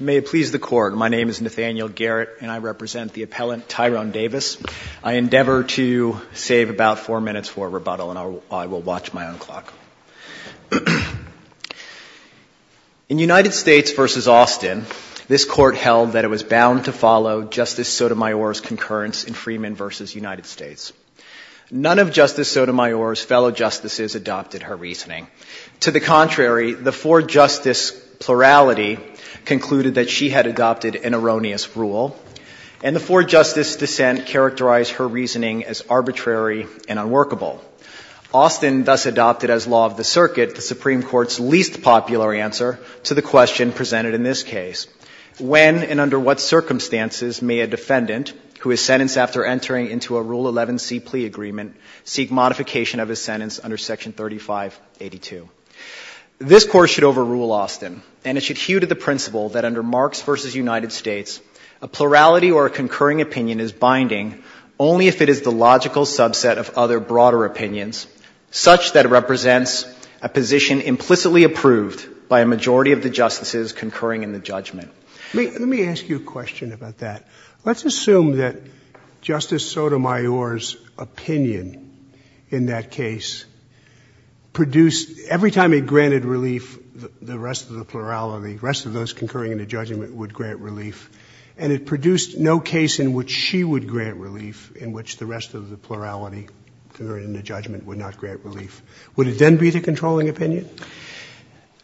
May it please the Court, my name is Nathaniel Garrett and I represent the appellant Tyrone Davis. I endeavor to save about four minutes for rebuttal and I will watch my own clock. In United States v. Austin, this Court held that it was bound to follow Justice Sotomayor's concurrence in Freeman v. United States. None of Justice Sotomayor's fellow justices adopted her reasoning. To the contrary, the four-justice plurality concluded that she had adopted an erroneous rule, and the four-justice dissent characterized her reasoning as arbitrary and unworkable. Austin thus adopted as law of the circuit the Supreme Court's least popular answer to the question presented in this case. When and under what circumstances may a defendant who is sentenced after entering into a Rule 11c plea agreement seek modification of his sentence under Section 3582? This Court should overrule Austin, and it should hew to the principle that under Marks v. United States, a plurality or a concurring opinion is binding only if it is the logical subset of other broader opinions, such that it represents a position implicitly approved by a majority of the justices concurring in the judgment. Let me ask you a question about that. Let's assume that Justice Sotomayor's opinion in that case produced, every time it granted relief, the rest of the plurality, the rest of those concurring in the judgment would grant relief, and it produced no case in which she would grant relief, in which the rest of the plurality concurring in the judgment would not grant relief. Would it then be the controlling opinion?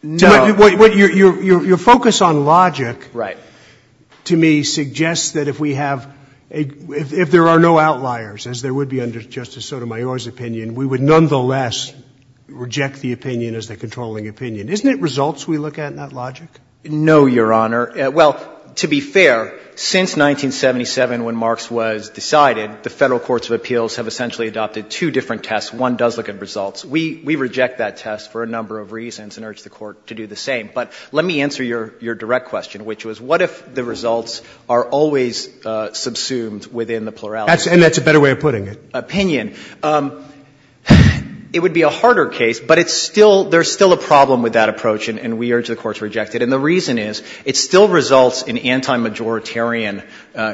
Your focus on logic to me suggests that if we have a — if there are no outliers, as there would be under Justice Sotomayor's opinion, we would nonetheless reject the opinion as the controlling opinion. Isn't it results we look at, not logic? No, Your Honor. Well, to be fair, since 1977 when Marks was decided, the Federal courts of appeals have essentially adopted two different tests. One does look at results. We reject that test for a number of reasons and urge the Court to do the same. But let me answer your direct question, which was what if the results are always subsumed within the plurality? And that's a better way of putting it. Opinion. It would be a harder case, but it's still — there's still a problem with that approach, and we urge the Court to reject it. And the reason is it still results in anti-majoritarian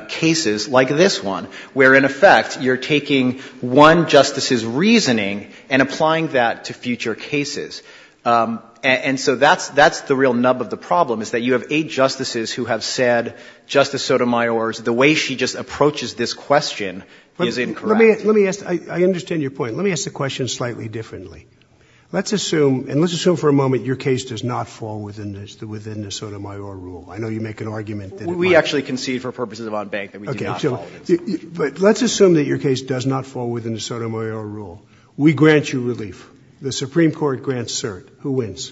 cases like this one, where in effect you're taking one justice's reasoning and applying that to future cases. And so that's the real nub of the problem, is that you have eight justices who have said Justice Sotomayor's — the way she just approaches this question is incorrect. Let me ask — I understand your point. Let me ask the question slightly differently. Let's assume — and let's assume for a moment your case does not fall within the Sotomayor rule. I know you make an argument that it might. We actually concede for purposes of odd bank that we do not fall. Okay. But let's assume that your case does not fall within the Sotomayor rule. We grant you relief. The Supreme Court grants cert. Who wins?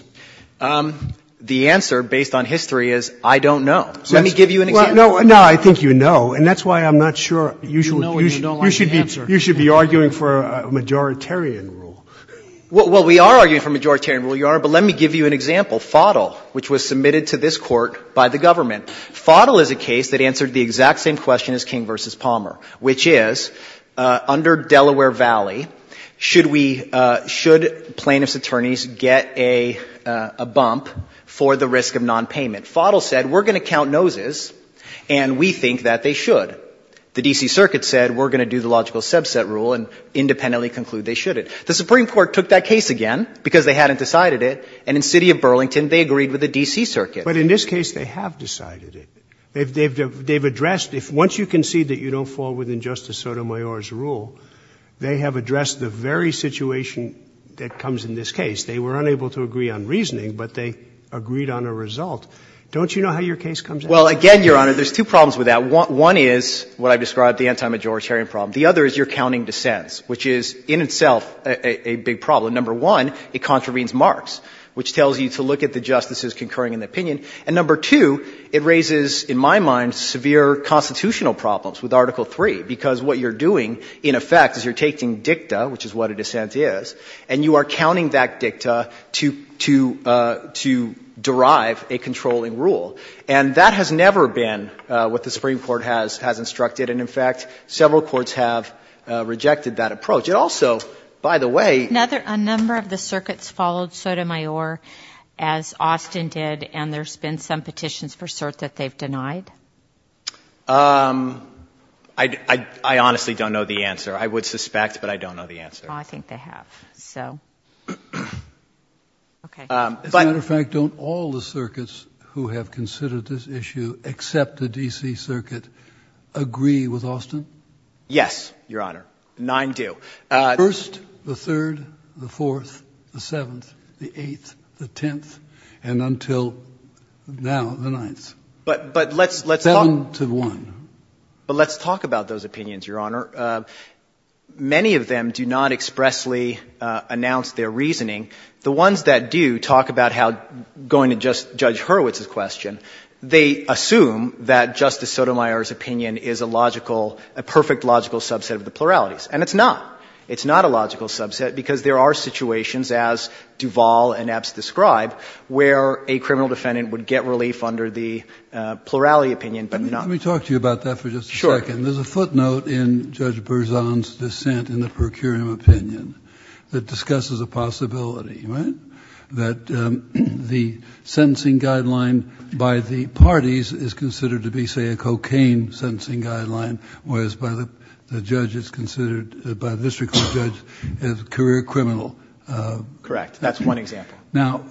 The answer, based on history, is I don't know. Let me give you an example. No, I think you know. And that's why I'm not sure you should be — You know and you don't like the answer. Well, we are arguing for majoritarian rule, Your Honor. But let me give you an example. Foddle, which was submitted to this Court by the government. Foddle is a case that answered the exact same question as King v. Palmer, which is, under Delaware Valley, should we — should plaintiffs' attorneys get a bump for the risk of nonpayment? Foddle said, we're going to count noses, and we think that they should. The D.C. Circuit said, we're going to do the logical subset rule and independently conclude they shouldn't. The Supreme Court took that case again because they hadn't decided it, and in the city of Burlington, they agreed with the D.C. Circuit. But in this case, they have decided it. They've addressed — once you concede that you don't fall within Justice Sotomayor's rule, they have addressed the very situation that comes in this case. They were unable to agree on reasoning, but they agreed on a result. Don't you know how your case comes out? Well, again, Your Honor, there's two problems with that. One is what I've described, the anti-majoritarian problem. The other is you're counting dissents, which is in itself a big problem. Number one, it contravenes Marx, which tells you to look at the justices concurring in the opinion. And number two, it raises, in my mind, severe constitutional problems with Article 3, because what you're doing, in effect, is you're taking dicta, which is what a dissent is, and you are counting that dicta to — to — to derive a controlling rule. And that has never been what the Supreme Court has — has instructed. And, in fact, several courts have rejected that approach. It also, by the way — Now, a number of the circuits followed Sotomayor, as Austin did, and there's been some petitions for cert that they've denied? I — I honestly don't know the answer. I would suspect, but I don't know the answer. I think they have. So — As a matter of fact, don't all the circuits who have considered this issue, except the D.C. Circuit, agree with Austin? Yes, Your Honor. Nine do. First, the third, the fourth, the seventh, the eighth, the tenth, and until now, the ninth. But — but let's — let's talk — Seven to one. But let's talk about those opinions, Your Honor. Many of them do not expressly announce their reasoning. The ones that do talk about how — going to just Judge Hurwitz's question, they assume that Justice Sotomayor's opinion is a logical — a perfect logical subset of the pluralities. And it's not. It's not a logical subset because there are situations, as Duval and Epps describe, where a criminal defendant would get relief under the plurality opinion, but not — Let me talk to you about that for just a second. Sure. There's a footnote in Judge Berzon's dissent in the per curiam opinion that discusses the possibility, right, that the sentencing guideline by the parties is considered to be, say, a cocaine sentencing guideline, whereas by the — the judge, it's considered — by the district court judge as career criminal. Correct. That's one example. Now,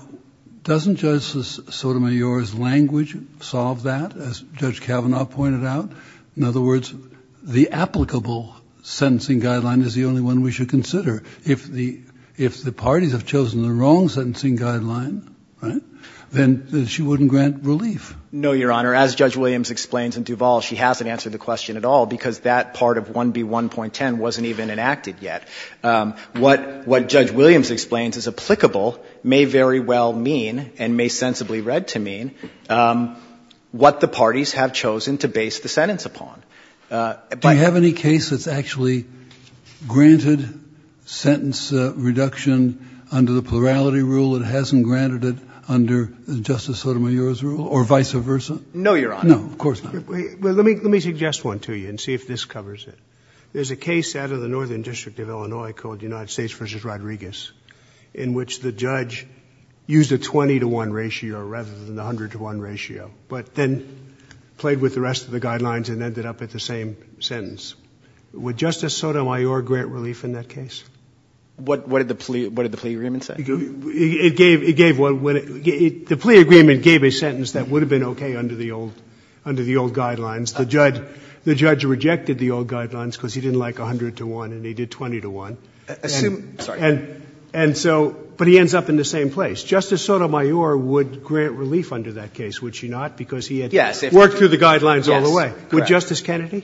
doesn't Judge Sotomayor's language solve that, as Judge Kavanaugh pointed out? In other words, the applicable sentencing guideline is the only one we should consider if the — if the parties have chosen the wrong sentencing guideline, right, then she wouldn't grant relief. No, Your Honor. As Judge Williams explains in Duval, she hasn't answered the question at all because that part of 1B1.10 wasn't even enacted yet. What — what Judge Williams explains as applicable may very well mean and may sensibly read to mean what the parties have chosen to base the sentence upon. Do you have any case that's actually granted sentence reduction under the plurality rule that hasn't granted it under Justice Sotomayor's rule, or vice versa? No, Your Honor. No, of course not. Well, let me — let me suggest one to you and see if this covers it. There's a case out of the Northern District of Illinois called United States v. Rodriguez in which the judge used a 20-to-1 ratio rather than the 100-to-1 ratio, but then played with the rest of the guidelines and ended up at the same sentence. Would Justice Sotomayor grant relief in that case? What — what did the plea — what did the plea agreement say? It gave — it gave — the plea agreement gave a sentence that would have been okay under the old — under the old guidelines. The judge — the judge rejected the old guidelines because he didn't like 100-to-1 and he did 20-to-1. Assume — sorry. And — and so — but he ends up in the same place. Justice Sotomayor would grant relief under that case, would she not, because he had worked through the guidelines all the way. Would Justice Kennedy?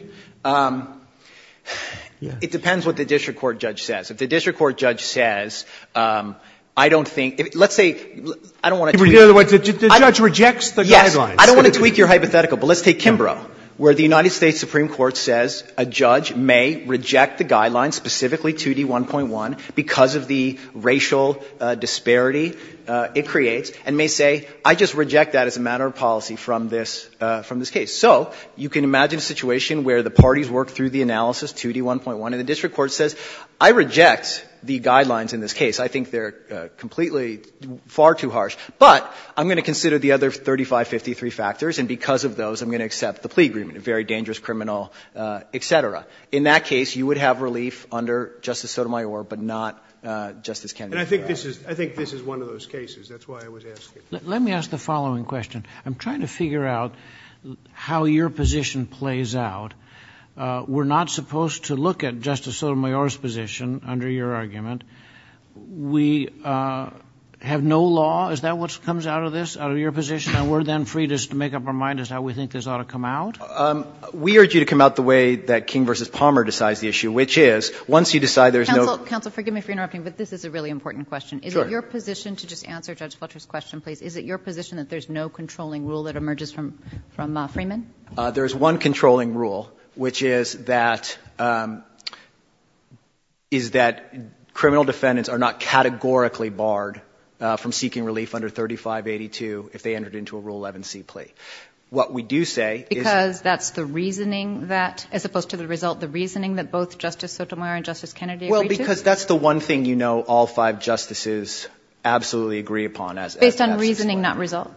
It depends what the district court judge says. If the district court judge says, I don't think — let's say — I don't want to tweak — In other words, the judge rejects the guidelines. Yes. I don't want to tweak your hypothetical, but let's take Kimbrough, where the United States Supreme Court says a judge may reject the guidelines, specifically 2D1.1, because of the racial disparity it creates, and may say, I just reject that as a matter of policy from this — from this case. So you can imagine a situation where the parties work through the analysis, 2D1.1, and the district court says, I reject the guidelines in this case. I think they're completely far too harsh. But I'm going to consider the other 3553 factors, and because of those, I'm going to accept the plea agreement, a very dangerous criminal, et cetera. In that case, you would have relief under Justice Sotomayor, but not Justice Kennedy. And I think this is — I think this is one of those cases. That's why I was asking. Let me ask the following question. I'm trying to figure out how your position plays out. We're not supposed to look at Justice Sotomayor's position under your argument. We have no law. Is that what comes out of this, out of your position? And we're then free to make up our mind as to how we think this ought to come out? We urge you to come out the way that King v. Palmer decides the issue, which is, once you decide there's no — Counsel, counsel, forgive me for interrupting, but this is a really important question. Sure. Your position — to just answer Judge Fletcher's question, please. Is it your position that there's no controlling rule that emerges from Freeman? There is one controlling rule, which is that — is that criminal defendants are not categorically barred from seeking relief under 3582 if they entered into a Rule 11c plea. What we do say is — Because that's the reasoning that — as opposed to the result, the reasoning that both Justice Sotomayor and Justice Kennedy agree to? Because that's the one thing you know all five justices absolutely agree upon. Based on reasoning, not result?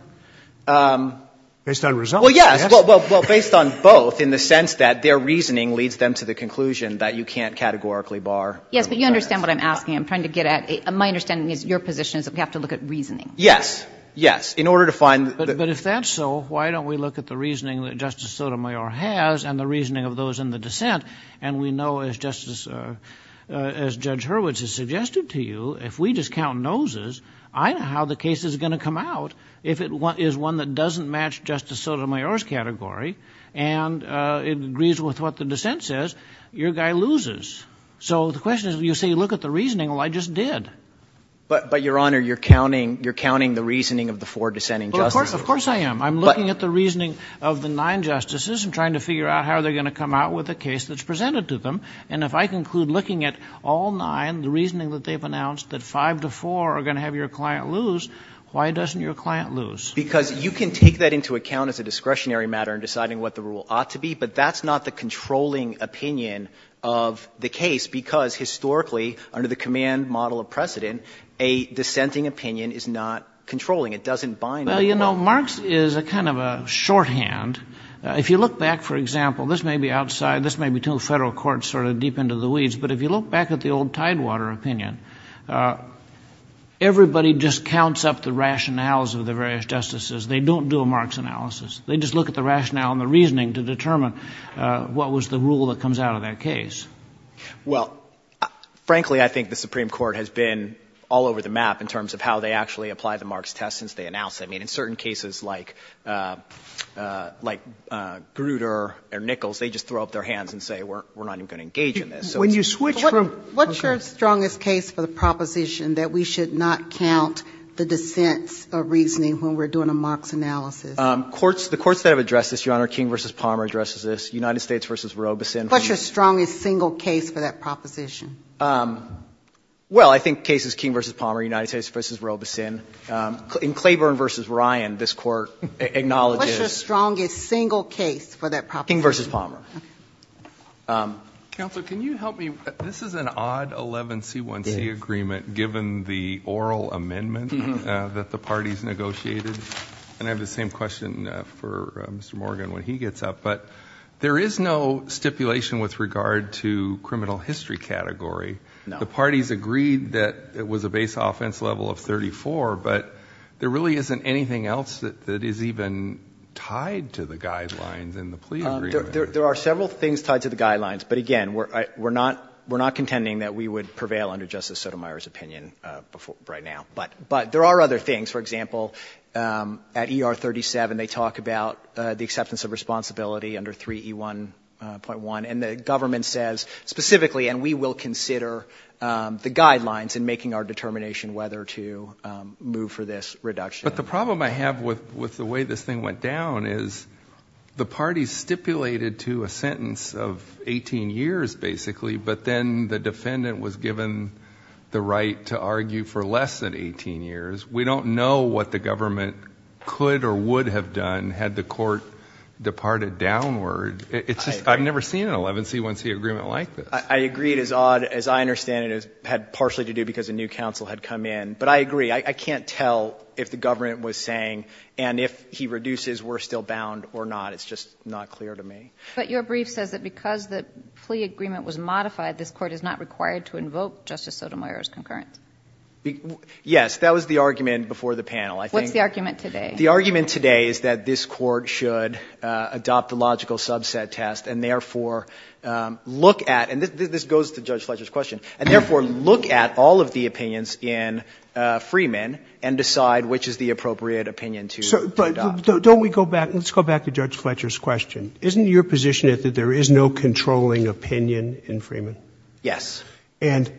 Based on result. Well, yes. Well, based on both in the sense that their reasoning leads them to the conclusion that you can't categorically bar — Yes, but you understand what I'm asking. I'm trying to get at — my understanding is your position is that we have to look at reasoning. Yes. Yes. In order to find — But if that's so, why don't we look at the reasoning that Justice Sotomayor has and the reasoning of those in the dissent? And we know, as Justice — as Judge Hurwitz has suggested to you, if we just count noses, I know how the case is going to come out. If it is one that doesn't match Justice Sotomayor's category and agrees with what the dissent says, your guy loses. So the question is, you say look at the reasoning. Well, I just did. But, Your Honor, you're counting — you're counting the reasoning of the four dissenting justices. Of course I am. I'm looking at the reasoning of the nine justices. I'm trying to figure out how they're going to come out with a case that's presented to them. And if I conclude looking at all nine, the reasoning that they've announced, that five to four are going to have your client lose, why doesn't your client lose? Because you can take that into account as a discretionary matter in deciding what the rule ought to be, but that's not the controlling opinion of the case, because historically, under the command model of precedent, a dissenting opinion is not controlling. It doesn't bind — Well, you know, Marx is a kind of a shorthand. If you look back, for example, this may be outside, this may be to a federal court sort of deep into the weeds, but if you look back at the old Tidewater opinion, everybody just counts up the rationales of the various justices. They don't do a Marx analysis. They just look at the rationale and the reasoning to determine what was the rule that comes out of that case. Well, frankly, I think the Supreme Court has been all over the map in terms of how they actually apply the Marx test since they announced it. I mean, in certain cases like Grutter or Nichols, they just throw up their hands and say we're not even going to engage in this. So when you switch from — What's your strongest case for the proposition that we should not count the dissents of reasoning when we're doing a Marx analysis? The courts that have addressed this, Your Honor, King v. Palmer addresses this, United States v. Robeson. What's your strongest single case for that proposition? Well, I think the case is King v. Palmer, United States v. Robeson. In Claiborne v. Ryan, this Court acknowledges — What's your strongest single case for that proposition? King v. Palmer. Counsel, can you help me? This is an odd 11C1C agreement given the oral amendment that the parties negotiated. And I have the same question for Mr. Morgan when he gets up. But there is no stipulation with regard to criminal history category. The parties agreed that it was a base offense level of 34, but there really isn't anything else that is even tied to the guidelines in the plea agreement. There are several things tied to the guidelines. But, again, we're not contending that we would prevail under Justice Sotomayor's opinion right now. But there are other things. For example, at ER 37, they talk about the acceptance of responsibility under 3E1.1. And the government says specifically, and we will consider the guidelines in making our determination whether to move for this reduction. But the problem I have with the way this thing went down is the parties stipulated to a sentence of 18 years, basically. But then the defendant was given the right to argue for less than 18 years. We don't know what the government could or would have done had the court departed downward. It's just I've never seen an 11C1C agreement like this. I agree. It is odd. As I understand it, it had partially to do because a new counsel had come in. But I agree. I can't tell if the government was saying, and if he reduces, we're still bound or not. It's just not clear to me. But your brief says that because the plea agreement was modified, this court is not required to invoke Justice Sotomayor's concurrence. Yes, that was the argument before the panel. What's the argument today? The argument today is that this court should adopt the logical subset test and therefore look at, and this goes to Judge Fletcher's question, and therefore look at all of the opinions in Freeman and decide which is the appropriate opinion to adopt. But don't we go back? Let's go back to Judge Fletcher's question. Isn't your position that there is no controlling opinion in Freeman? Yes. And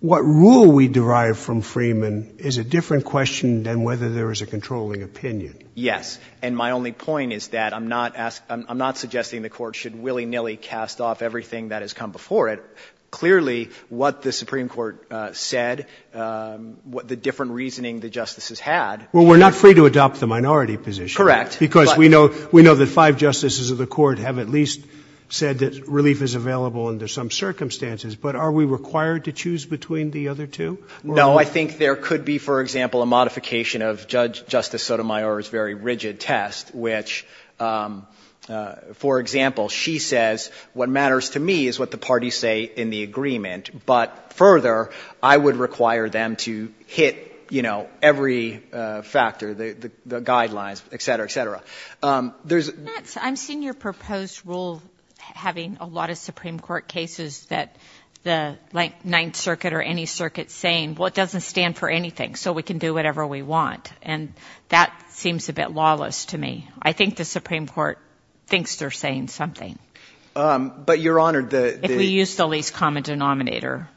what rule we derive from Freeman is a different question than whether there is a controlling opinion. Yes. And my only point is that I'm not suggesting the court should willy-nilly cast off everything that has come before it. Clearly, what the Supreme Court said, the different reasoning the justices had. Well, we're not free to adopt the minority position. Correct. Because we know that five justices of the court have at least said that relief is available under some circumstances. But are we required to choose between the other two? No. I think there could be, for example, a modification of Justice Sotomayor's very rigid test, which, for example, she says what matters to me is what the parties say in the agreement. But further, I would require them to hit, you know, every factor, the guidelines, et cetera, et cetera. I'm seeing your proposed rule having a lot of Supreme Court cases that the Ninth Circuit or any circuit saying, well, it doesn't stand for anything, so we can do whatever we want. And that seems a bit lawless to me. I think the Supreme Court thinks they're saying something. But, Your Honor, the – If we use the least common denominator.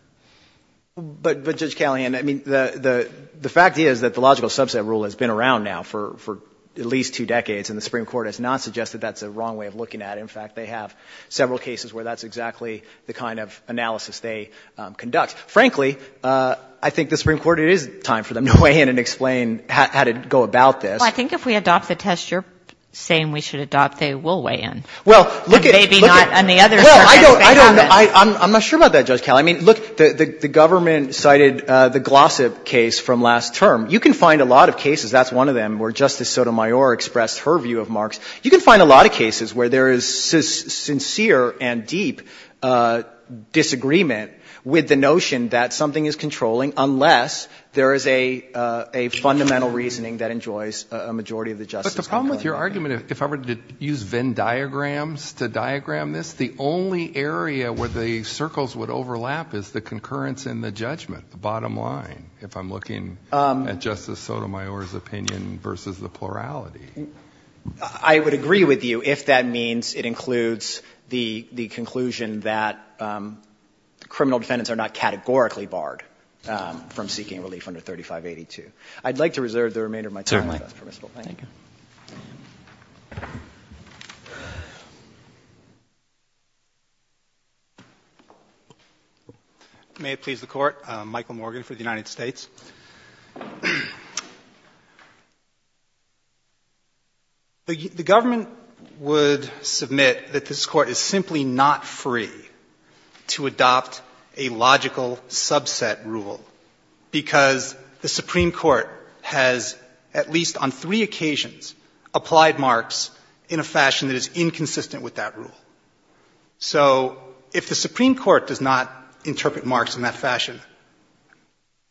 But, Judge Callahan, I mean, the fact is that the logical subset rule has been around now for at least two decades, and the Supreme Court has not suggested that's a wrong way of looking at it. In fact, they have several cases where that's exactly the kind of analysis they conduct. Frankly, I think the Supreme Court, it is time for them to weigh in and explain how to go about this. Well, I think if we adopt the test you're saying we should adopt, they will weigh in. Well, look at – And maybe not on the other circumstances. I don't know. I'm not sure about that, Judge Callahan. I mean, look, the government cited the Glossip case from last term. You can find a lot of cases, that's one of them, where Justice Sotomayor expressed her view of Marx. You can find a lot of cases where there is sincere and deep disagreement with the notion that something is controlling unless there is a fundamental reasoning that enjoys a majority of the justice. There's a problem with your argument if I were to use Venn diagrams to diagram this. The only area where the circles would overlap is the concurrence in the judgment, the bottom line, if I'm looking at Justice Sotomayor's opinion versus the plurality. I would agree with you if that means it includes the conclusion that criminal defendants are not categorically barred from seeking relief under 3582. I'd like to reserve the remainder of my time. Thank you. Roberts. May it please the Court. Michael Morgan for the United States. The government would submit that this Court is simply not free to adopt a logical rule because the Supreme Court has at least on three occasions applied Marx in a fashion that is inconsistent with that rule. So if the Supreme Court does not interpret Marx in that fashion,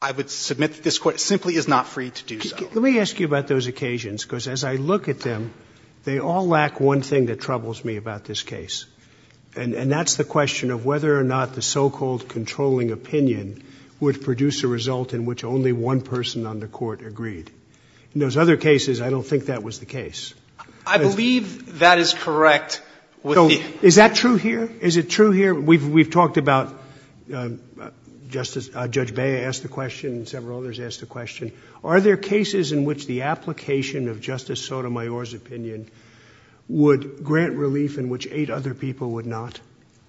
I would submit that this Court simply is not free to do so. Let me ask you about those occasions because as I look at them, they all lack one thing that troubles me about this case. And that's the question of whether or not the so-called controlling opinion would produce a result in which only one person on the Court agreed. In those other cases, I don't think that was the case. I believe that is correct. Is that true here? Is it true here? We've talked about Justice — Judge Bey asked the question and several others asked the question. Are there cases in which the application of Justice Sotomayor's opinion would grant relief in which eight other people would not?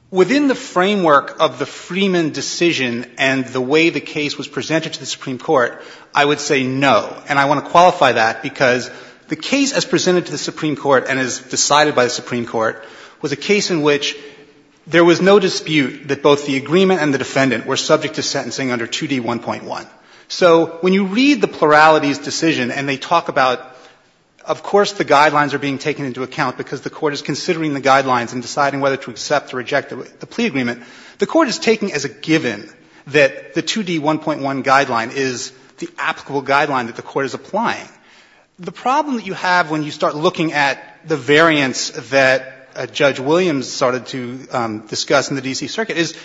Within the framework of the Freeman decision and the way the case was presented to the Supreme Court, I would say no. And I want to qualify that because the case as presented to the Supreme Court and as decided by the Supreme Court was a case in which there was no dispute that both the agreement and the defendant were subject to sentencing under 2D1.1. So when you read the pluralities decision and they talk about of course the guidelines are being taken into account because the Court is considering the guidelines and deciding whether to accept or reject the plea agreement, the Court is taking as a given that the 2D1.1 guideline is the applicable guideline that the Court is applying. The problem that you have when you start looking at the variance that Judge Williams started to discuss in the D.C. Circuit is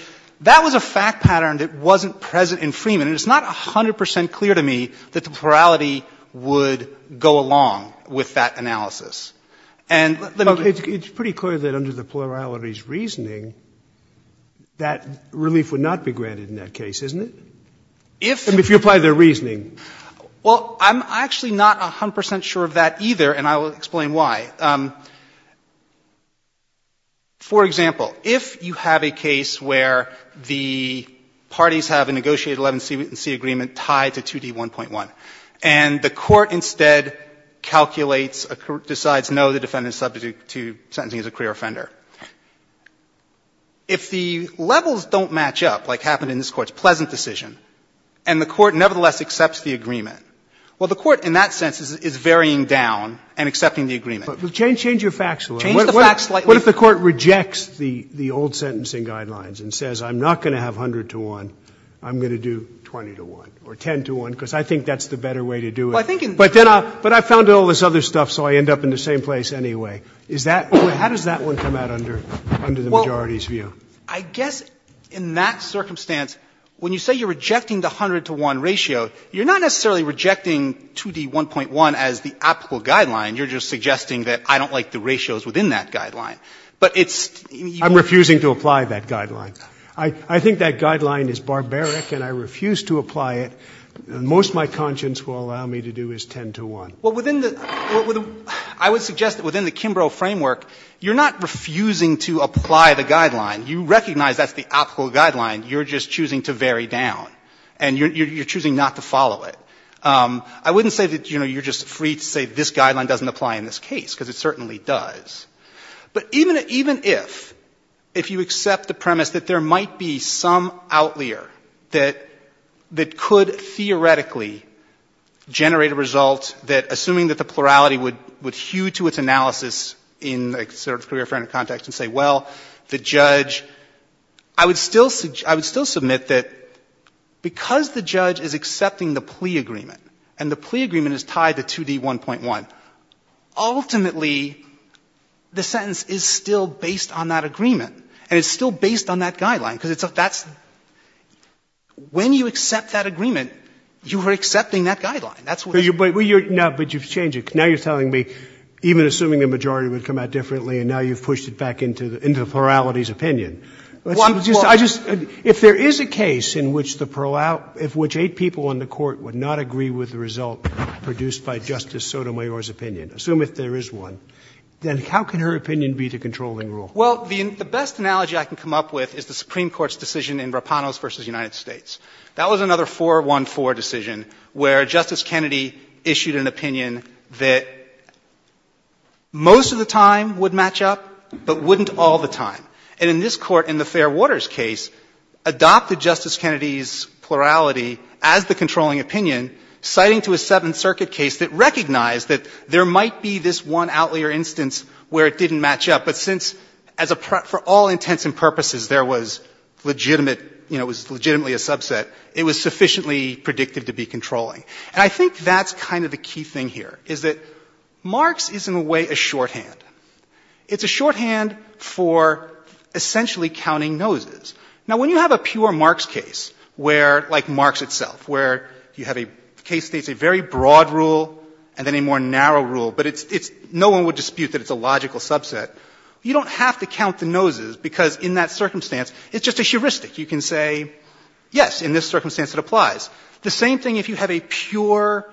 that was a fact pattern that wasn't present in Freeman. And it's not 100 percent clear to me that the plurality would go along with that analysis. And let me give you the case. Sotomayor's reasoning, that relief would not be granted in that case, isn't it? If you apply their reasoning. Well, I'm actually not 100 percent sure of that either, and I will explain why. But for example, if you have a case where the parties have a negotiated 11C agreement tied to 2D1.1 and the Court instead calculates, decides no, the defendant is subject to sentencing as a career offender, if the levels don't match up, like happened in this Court's pleasant decision, and the Court nevertheless accepts the agreement, well, the Court in that sense is varying down and accepting the agreement. But change your facts a little. Change the facts slightly. What if the Court rejects the old sentencing guidelines and says I'm not going to have 100-to-1, I'm going to do 20-to-1 or 10-to-1, because I think that's the better way to do it. But then I found all this other stuff, so I end up in the same place anyway. How does that one come out under the majority's view? I guess in that circumstance, when you say you're rejecting the 100-to-1 ratio, you're not necessarily rejecting 2D1.1 as the applicable guideline. You're just suggesting that I don't like the ratios within that guideline. But it's you can't. I'm refusing to apply that guideline. I think that guideline is barbaric and I refuse to apply it. Most my conscience will allow me to do is 10-to-1. Well, within the – I would suggest that within the Kimbrough framework, you're not refusing to apply the guideline. You recognize that's the applicable guideline. You're just choosing to vary down. And you're choosing not to follow it. I wouldn't say that, you know, you're just free to say this guideline doesn't apply in this case, because it certainly does. But even if, if you accept the premise that there might be some outlier that could theoretically generate a result that, assuming that the plurality would hew to its analysis in a sort of career-friendly context and say, well, the judge is accepting the plea agreement, and the plea agreement is tied to 2D1.1, ultimately, the sentence is still based on that agreement. And it's still based on that guideline, because it's a – that's – when you accept that agreement, you are accepting that guideline. That's what it is. But you're – no, but you've changed it. Now you're telling me, even assuming the majority would come out differently and now you've pushed it back into the plurality's opinion. Let's see. I just – if there is a case in which the – of which eight people on the Court would not agree with the result produced by Justice Sotomayor's opinion, assume if there is one, then how can her opinion be the controlling rule? Well, the best analogy I can come up with is the Supreme Court's decision in Rapanos v. United States. That was another 4-1-4 decision where Justice Kennedy issued an opinion that most of the time would match up, but wouldn't all the time. And in this Court, in the Fairwater's case, adopted Justice Kennedy's plurality as the controlling opinion, citing to a Seventh Circuit case that recognized that there might be this one outlier instance where it didn't match up. But since, as a – for all intents and purposes, there was legitimate – you know, it was legitimately a subset, it was sufficiently predictive to be controlling. And I think that's kind of the key thing here, is that Marx is, in a way, a shorthand. It's a shorthand for essentially counting noses. Now, when you have a pure Marx case where, like Marx itself, where you have a case that's a very broad rule and then a more narrow rule, but it's – no one would dispute that it's a logical subset, you don't have to count the noses because in that circumstance it's just a heuristic. You can say, yes, in this circumstance it applies. The same thing if you have a pure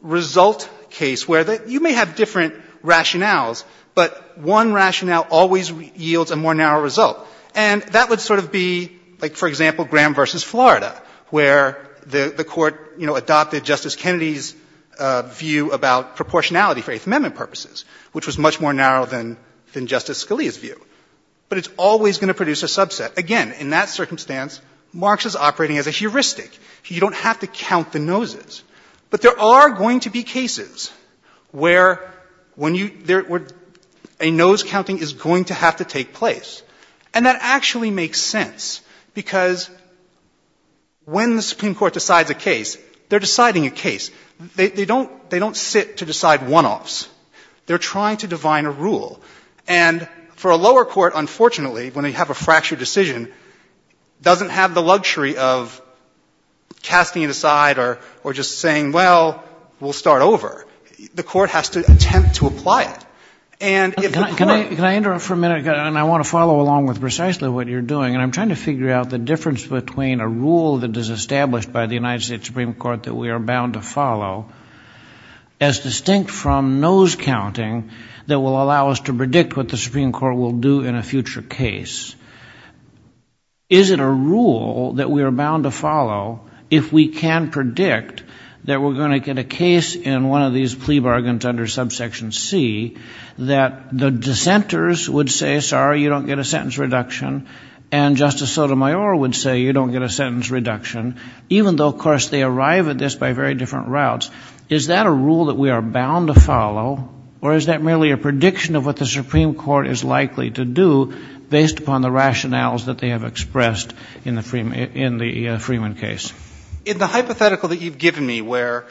result case where you may have different rationales, but one rationale always yields a more narrow result. And that would sort of be, like, for example, Graham v. Florida, where the Court, you know, adopted Justice Kennedy's view about proportionality for Eighth Amendment purposes, which was much more narrow than Justice Scalia's view. But it's always going to produce a subset. Again, in that circumstance, Marx is operating as a heuristic. You don't have to count the noses. But there are going to be cases where when you – where a nose counting is going to have to take place. And that actually makes sense because when the Supreme Court decides a case, they're deciding a case. They don't sit to decide one-offs. They're trying to divine a rule. And for a lower court, unfortunately, when they have a fractured decision, doesn't have the luxury of casting it aside or just saying, well, we'll start over. The court has to attempt to apply it. And if the court – Can I interrupt for a minute? And I want to follow along with precisely what you're doing. And I'm trying to figure out the difference between a rule that is established by the United States Supreme Court that we are bound to follow as distinct from nose counting that will allow us to predict what the Supreme Court will do in a future case. Is it a rule that we are bound to follow if we can predict that we're going to get a case in one of these plea bargains under subsection C that the dissenters would say, sorry, you don't get a sentence reduction. And Justice Sotomayor would say, you don't get a sentence reduction. Even though, of course, they arrive at this by very different routes. Is that a rule that we are bound to follow? Or is that merely a prediction of what the Supreme Court is likely to do based upon the rationales that they have expressed in the Freeman case? In the hypothetical that you've given me where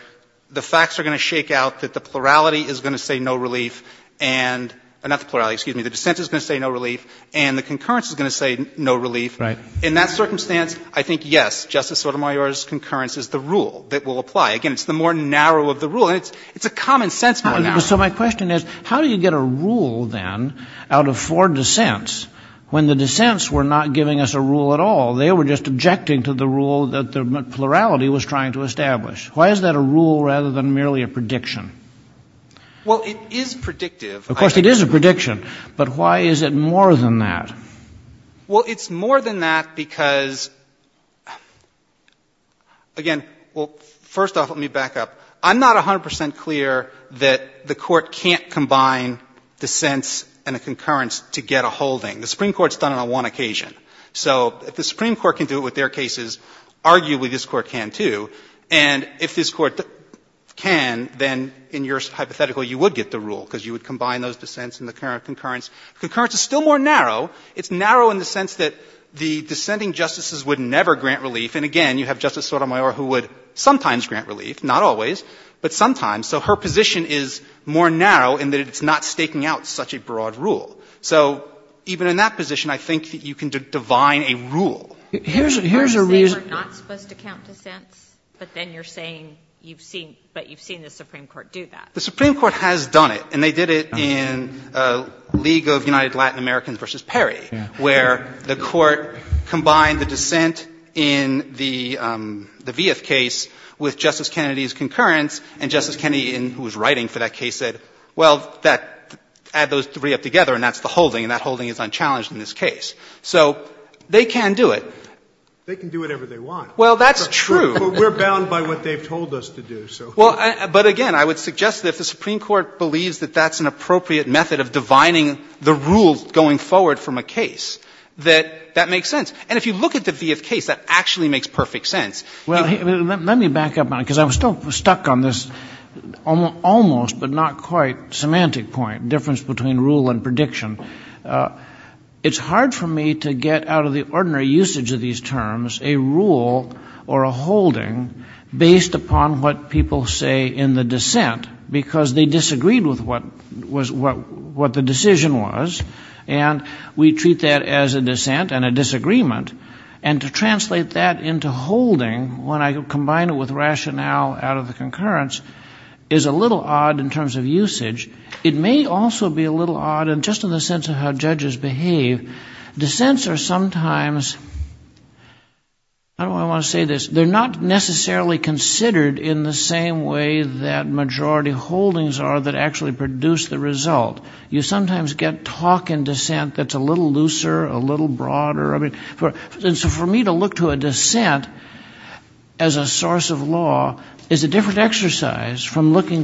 the facts are going to shake out that the plurality is going to say no relief and – not the plurality, excuse me. The dissenters are going to say no relief and the concurrence is going to say no relief. Right. In that circumstance, I think, yes, Justice Sotomayor's concurrence is the rule that will apply. Again, it's the more narrow of the rule. It's a common sense rule now. So my question is how do you get a rule then out of four dissents when the dissents were not giving us a rule at all? They were just objecting to the rule that the plurality was trying to establish. Why is that a rule rather than merely a prediction? Well, it is predictive. Of course, it is a prediction. But why is it more than that? Well, it's more than that because – again, well, first off, let me back up. I'm not 100 percent clear that the Court can't combine dissents and a concurrence to get a holding. The Supreme Court's done it on one occasion. So if the Supreme Court can do it with their cases, arguably this Court can, too. And if this Court can, then in your hypothetical you would get the rule because you would combine those dissents and the concurrence. Concurrence is still more narrow. It's narrow in the sense that the dissenting justices would never grant relief. And again, you have Justice Sotomayor who would sometimes grant relief, not always, but sometimes. So her position is more narrow in that it's not staking out such a broad rule. So even in that position, I think that you can divine a rule. Here's a reason. You're saying we're not supposed to count dissents, but then you're saying you've seen – but you've seen the Supreme Court do that. The Supreme Court has done it, and they did it in League of United Latin Americans v. Perry, where the Court combined the dissent in the Vieth case with Justice Kennedy's concurrence, and Justice Kennedy, who was writing for that case, said, well, add those three up together and that's the holding, and that holding is unchallenged in this case. So they can do it. They can do whatever they want. Well, that's true. But we're bound by what they've told us to do. Well, but again, I would suggest that if the Supreme Court believes that that's an appropriate method of divining the rules going forward from a case, that that makes sense. And if you look at the Vieth case, that actually makes perfect sense. Well, let me back up on it, because I'm still stuck on this almost but not quite semantic point, difference between rule and prediction. It's hard for me to get out of the ordinary usage of these terms a rule or a holding based upon what people say in the dissent, because they disagreed with what the decision was, and we treat that as a dissent and a disagreement. And to translate that into holding, when I combine it with rationale out of the concurrence, is a little odd in terms of usage. It may also be a little odd just in the sense of how judges behave. Dissents are sometimes, how do I want to say this, they're not necessarily considered in the same way that majority holdings are that actually produce the result. You sometimes get talk in dissent that's a little looser, a little broader. And so for me to look to a dissent as a source of law is a different exercise from looking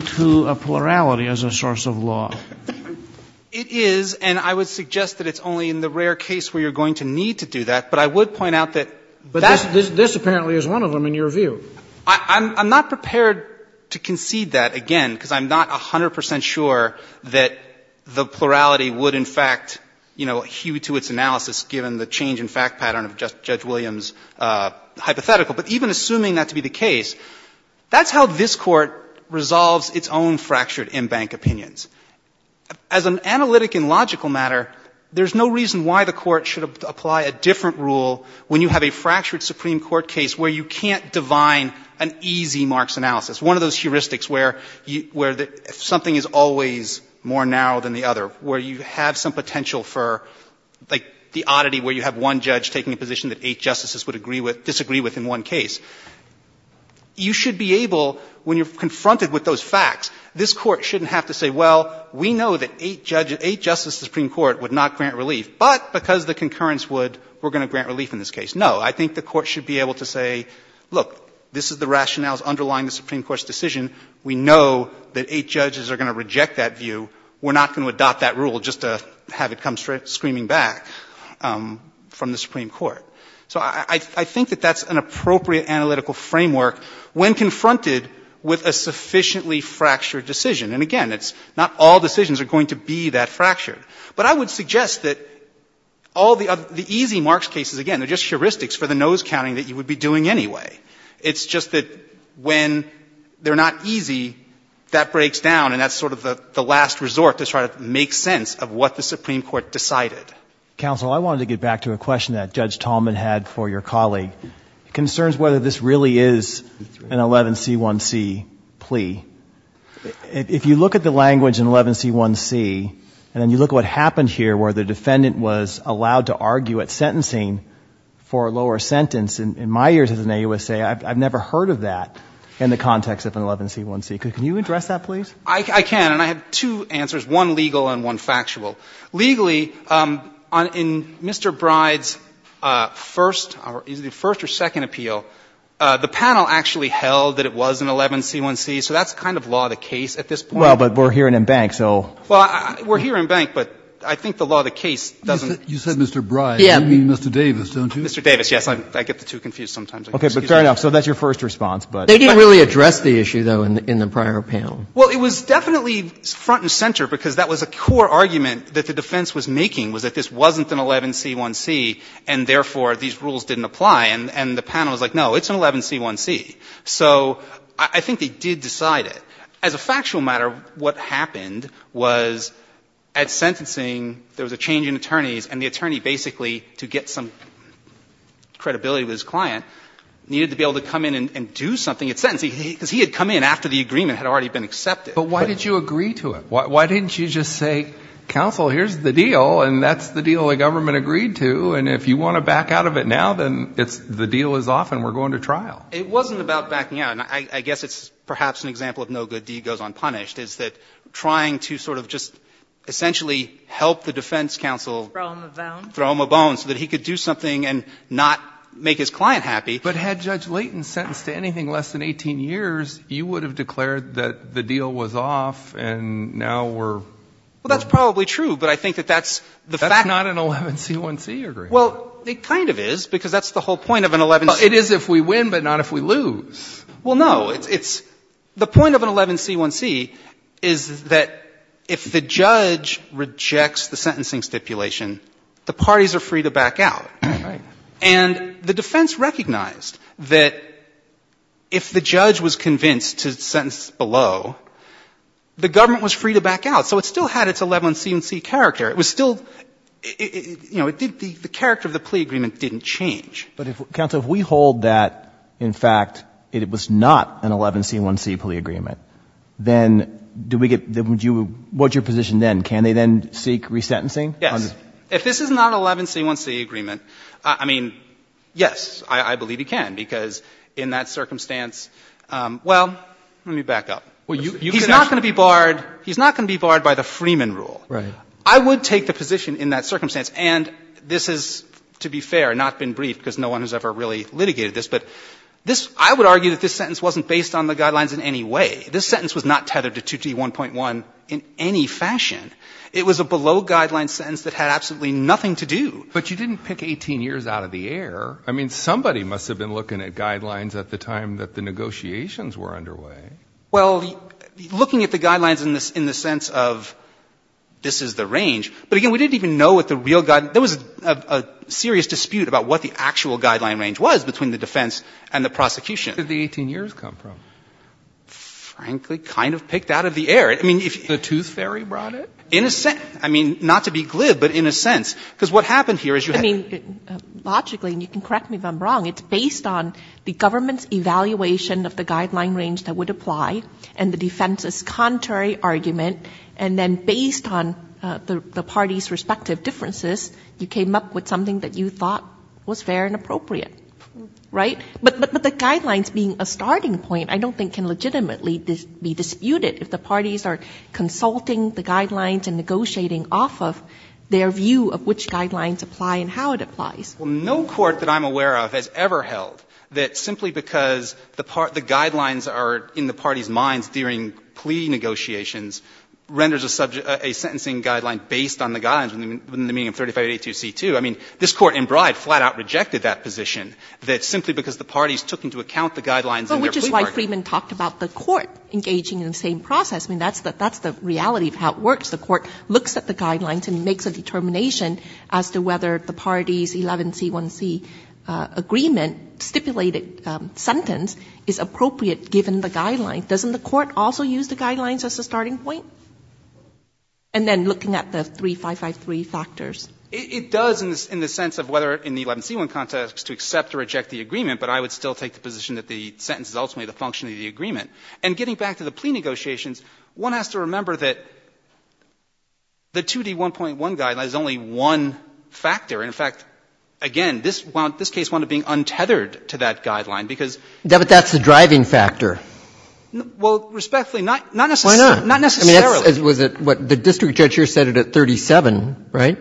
It is, and I would suggest that it's only in the rare case where you're going to need to do that. But I would point out that that's But this apparently is one of them in your view. I'm not prepared to concede that, again, because I'm not 100 percent sure that the plurality would in fact, you know, hew to its analysis given the change in fact pattern of Judge Williams' hypothetical. But even assuming that to be the case, that's how this Court resolves its own fractured in-bank opinions. As an analytic and logical matter, there's no reason why the Court should apply a different rule when you have a fractured Supreme Court case where you can't divine an easy Marx analysis. One of those heuristics where something is always more narrow than the other, where you have some potential for like the oddity where you have one judge taking a position that eight justices would disagree with in one case. You should be able, when you're confronted with those facts, this Court shouldn't have to say, well, we know that eight judges, eight justices of the Supreme Court would not grant relief, but because the concurrence would, we're going to grant relief in this case. No. I think the Court should be able to say, look, this is the rationales underlying the Supreme Court's decision. We know that eight judges are going to reject that view. We're not going to adopt that rule just to have it come screaming back from the Supreme Court. So I think that that's an appropriate analytical framework when confronted with a sufficiently fractured decision. And, again, it's not all decisions are going to be that fractured. But I would suggest that all the easy Marx cases, again, they're just heuristics for the nose counting that you would be doing anyway. It's just that when they're not easy, that breaks down and that's sort of the last resort to try to make sense of what the Supreme Court decided. Counsel, I wanted to get back to a question that Judge Tallman had for your colleague. It concerns whether this really is an 11C1C plea. If you look at the language in 11C1C and then you look at what happened here where the defendant was allowed to argue at sentencing for a lower sentence, in my years as an AUSA, I've never heard of that in the context of an 11C1C. Can you address that, please? I can. And I have two answers, one legal and one factual. Legally, in Mr. Bride's first or second appeal, the panel actually held that it was an 11C1C, so that's kind of law of the case at this point. Well, but we're here in Embank, so. Well, we're here in Embank, but I think the law of the case doesn't. You said Mr. Bride. You mean Mr. Davis, don't you? Mr. Davis, yes. I get the two confused sometimes. Okay, but fair enough. So that's your first response. They didn't really address the issue, though, in the prior panel. Well, it was definitely front and center, because that was a core argument that the defense was making, was that this wasn't an 11C1C, and therefore these rules didn't apply. And the panel was like, no, it's an 11C1C. So I think they did decide it. As a factual matter, what happened was at sentencing, there was a change in attorneys, and the attorney basically, to get some credibility with his client, needed to be able to come in and do something at sentencing, because he had come in after the agreement had already been accepted. But why did you agree to it? Why didn't you just say, counsel, here's the deal, and that's the deal the government agreed to, and if you want to back out of it now, then the deal is off and we're going to trial? It wasn't about backing out. I guess it's perhaps an example of no good deed goes unpunished, is that trying to sort of just essentially help the defense counsel throw him a bone so that he could do something and not make his client happy. But had Judge Leighton sentenced to anything less than 18 years, you would have declared that the deal was off and now we're. Well, that's probably true, but I think that that's the fact. That's not an 11C1C agreement. Well, it kind of is, because that's the whole point of an 11C1C. It is if we win, but not if we lose. Well, no. It's the point of an 11C1C is that if the judge rejects the sentencing stipulation, the parties are free to back out. Right. And the defense recognized that if the judge was convinced to sentence below, the government was free to back out. So it still had its 11C1C character. It was still, you know, the character of the plea agreement didn't change. But if, counsel, if we hold that, in fact, it was not an 11C1C plea agreement, then do we get, would you, what's your position then? Can they then seek resentencing? Yes. If this is not an 11C1C agreement, I mean, yes, I believe he can, because in that circumstance, well, let me back up. He's not going to be barred. He's not going to be barred by the Freeman rule. Right. I would take the position in that circumstance, and this is, to be fair, not been briefed, because no one has ever really litigated this, but this, I would argue that this sentence wasn't based on the guidelines in any way. This sentence was not tethered to 2T1.1 in any fashion. It was a below-guideline sentence that had absolutely nothing to do. But you didn't pick 18 years out of the air. I mean, somebody must have been looking at guidelines at the time that the negotiations were underway. Well, looking at the guidelines in the sense of this is the range, but again, we didn't even know what the real, there was a serious dispute about what the actual guideline range was between the defense and the prosecution. Where did the 18 years come from? Frankly, kind of picked out of the air. The tooth fairy brought it? In a sense. I mean, not to be glib, but in a sense. Because what happened here is you had. I mean, logically, and you can correct me if I'm wrong, it's based on the government's evaluation of the guideline range that would apply and the defense's contrary argument, and then based on the parties' respective differences, you came up with something that you thought was fair and appropriate. Right? But the guidelines being a starting point I don't think can legitimately be disputed if the parties are consulting the guidelines and negotiating off of their view of which guidelines apply and how it applies. Well, no court that I'm aware of has ever held that simply because the guidelines are in the parties' minds during plea negotiations renders a subject, a sentencing guideline based on the guidelines within the meaning of 3582C2. I mean, this Court in Bride flat out rejected that position, that simply because the parties took into account the guidelines in their plea bargain. But the agreement talked about the court engaging in the same process. I mean, that's the reality of how it works. The court looks at the guidelines and makes a determination as to whether the parties' 11C1C agreement stipulated sentence is appropriate given the guidelines. Doesn't the court also use the guidelines as a starting point? And then looking at the 3553 factors. It does in the sense of whether in the 11C1 context to accept or reject the agreement, but I would still take the position that the sentence is ultimately the function of the agreement. And getting back to the plea negotiations, one has to remember that the 2D1.1 guideline is only one factor. And, in fact, again, this case wound up being untethered to that guideline because. But that's the driving factor. Well, respectfully, not necessarily. Why not? Not necessarily. Was it what the district judge here said at 37, right,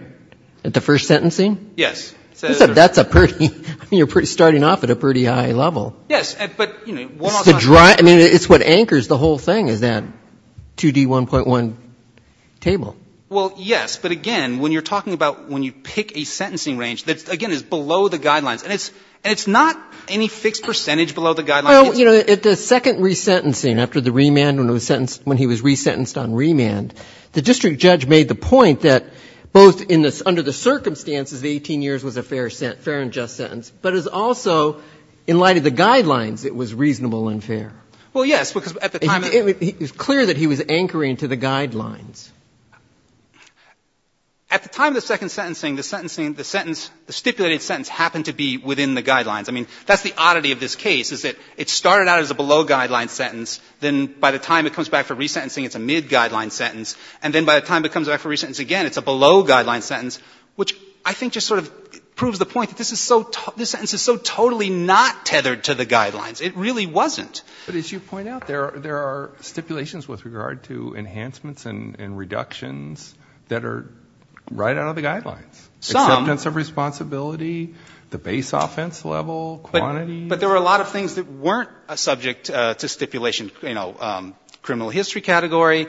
at the first sentencing? Yes. That's a pretty, I mean, you're starting off at a pretty high level. Yes. But, you know. I mean, it's what anchors the whole thing is that 2D1.1 table. Well, yes. But, again, when you're talking about when you pick a sentencing range that, again, is below the guidelines. And it's not any fixed percentage below the guidelines. Well, you know, at the second resentencing, after the remand when he was resentenced on remand, the district judge made the point that both in the, under the circumstances the 18 years was a fair and just sentence. But it was also, in light of the guidelines, it was reasonable and fair. Well, yes. Because at the time. It was clear that he was anchoring to the guidelines. At the time of the second sentencing, the sentence, the stipulated sentence happened to be within the guidelines. I mean, that's the oddity of this case is that it started out as a below-guidelines sentence. Then by the time it comes back for resentencing, it's a mid-guidelines sentence. And then by the time it comes back for resentencing again, it's a below-guidelines sentence, which I think just sort of proves the point that this is so, this sentence is so totally not tethered to the guidelines. It really wasn't. But as you point out, there are stipulations with regard to enhancements and reductions that are right out of the guidelines. Some. Acceptance of responsibility, the base offense level, quantity. But there were a lot of things that weren't subject to stipulation, you know, criminal history category,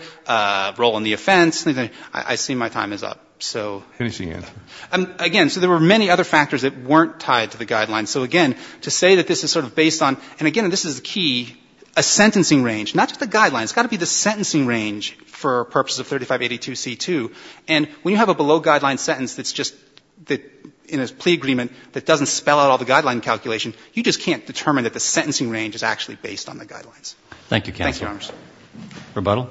role in the offense. I see my time is up. So. Again, so there were many other factors that weren't tied to the guidelines. So again, to say that this is sort of based on, and again, this is the key, a sentencing range, not just the guidelines. It's got to be the sentencing range for purposes of 3582C2. And when you have a below-guidelines sentence that's just in a plea agreement that doesn't spell out all the guideline calculation, you just can't determine that the sentencing range is actually based on the guidelines. Thank you, counsel. Rebuttal.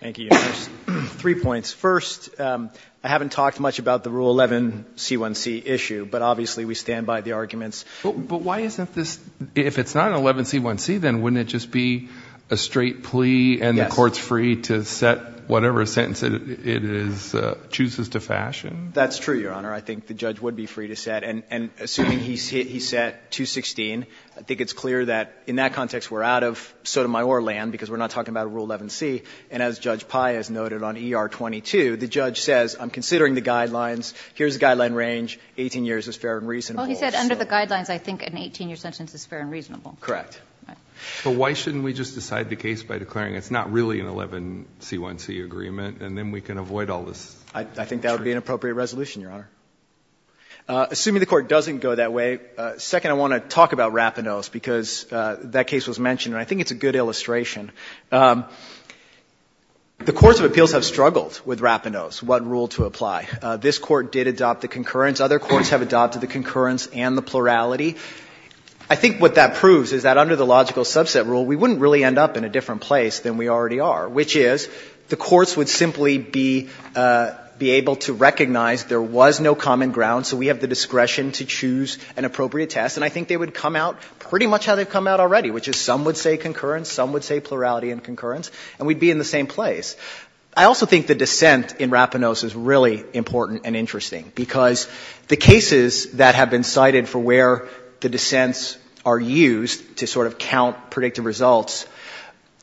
Thank you, Your Honor. Three points. First, I haven't talked much about the Rule 11C1C issue, but obviously we stand by the arguments. But why isn't this, if it's not 11C1C, then wouldn't it just be a straight plea and the court's free to set whatever sentence it is, chooses to fashion? That's true, Your Honor. I think the judge would be free to set. And assuming he set 216, I think it's clear that in that context we're out of Sotomayor land, because we're not talking about Rule 11C. And as Judge Paez noted on ER22, the judge says, I'm considering the guidelines, here's the guideline range, 18 years is fair and reasonable. Well, he said under the guidelines, I think an 18-year sentence is fair and reasonable. Correct. But why shouldn't we just decide the case by declaring it's not really an 11C1C agreement, and then we can avoid all this? I think that would be an appropriate resolution, Your Honor. Assuming the Court doesn't go that way, second, I want to talk about Rapinos, because that case was mentioned, and I think it's a good illustration. The courts of appeals have struggled with Rapinos, what rule to apply. This Court did adopt the concurrence. Other courts have adopted the concurrence and the plurality. I think what that proves is that under the logical subset rule, we wouldn't really end up in a different place than we already are, which is the courts would simply be able to recognize there was no common ground, so we have the discretion to choose an appropriate test, and I think they would come out pretty much how they've come out already, which is some would say concurrence, some would say plurality and concurrence, and we'd be in the same place. I also think the dissent in Rapinos is really important and interesting, because the cases that have been cited for where the dissents are used to sort of count predictive results,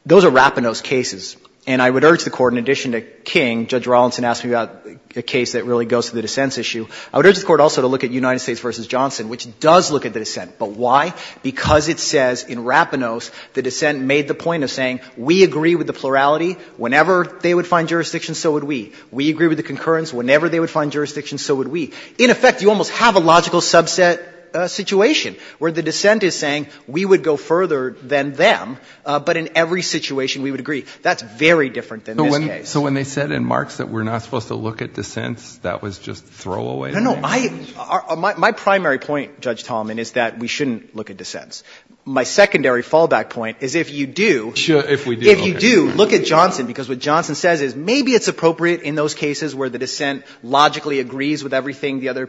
those are Rapinos cases. And I would urge the Court, in addition to King, Judge Rawlinson asked me about a case that really goes to the dissents issue, I would urge the Court also to look at United States v. Johnson, which does look at the dissent. But why? Because it says in Rapinos the dissent made the point of saying we agree with the plurality. Whenever they would find jurisdiction, so would we. We agree with the concurrence. Whenever they would find jurisdiction, so would we. In effect, you almost have a logical subset situation where the dissent is saying we would go further than them, but in every situation we would agree. That's very different than this case. So when they said in Marks that we're not supposed to look at dissents, that was just throwaway? No, no. My primary point, Judge Tallman, is that we shouldn't look at dissents. My secondary fallback point is if you do, if you do look at Johnson, because what Johnson says is maybe it's appropriate in those cases where the dissent logically agrees with everything the other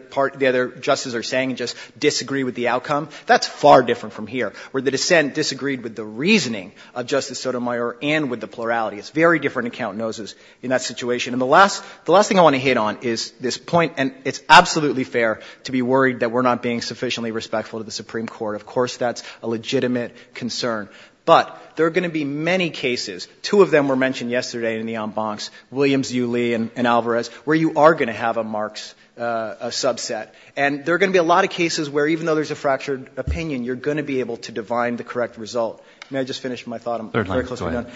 justices are saying and just disagree with the outcome. That's far different from here, where the dissent disagreed with the reasoning of plurality. It's very different in count noses in that situation. And the last thing I want to hit on is this point, and it's absolutely fair to be worried that we're not being sufficiently respectful to the Supreme Court. Of course that's a legitimate concern. But there are going to be many cases, two of them were mentioned yesterday in the en bancs, Williams, Yu, Lee, and Alvarez, where you are going to have a Marks subset. And there are going to be a lot of cases where even though there's a fractured opinion, you're going to be able to divine the correct result. May I just finish my thought? I'm very closely done.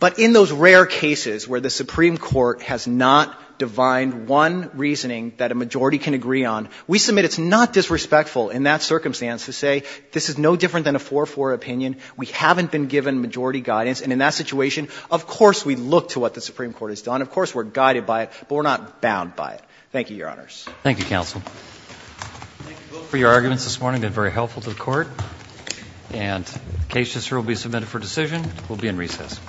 But in those rare cases where the Supreme Court has not divined one reasoning that a majority can agree on, we submit it's not disrespectful in that circumstance to say this is no different than a 4-4 opinion. We haven't been given majority guidance. And in that situation, of course we look to what the Supreme Court has done. Of course we're guided by it, but we're not bound by it. Thank you, Your Honors. Roberts. Thank you, counsel. Thank you both for your arguments this morning. They've been very helpful to the Court. And the case will be submitted for decision. We'll be in recess.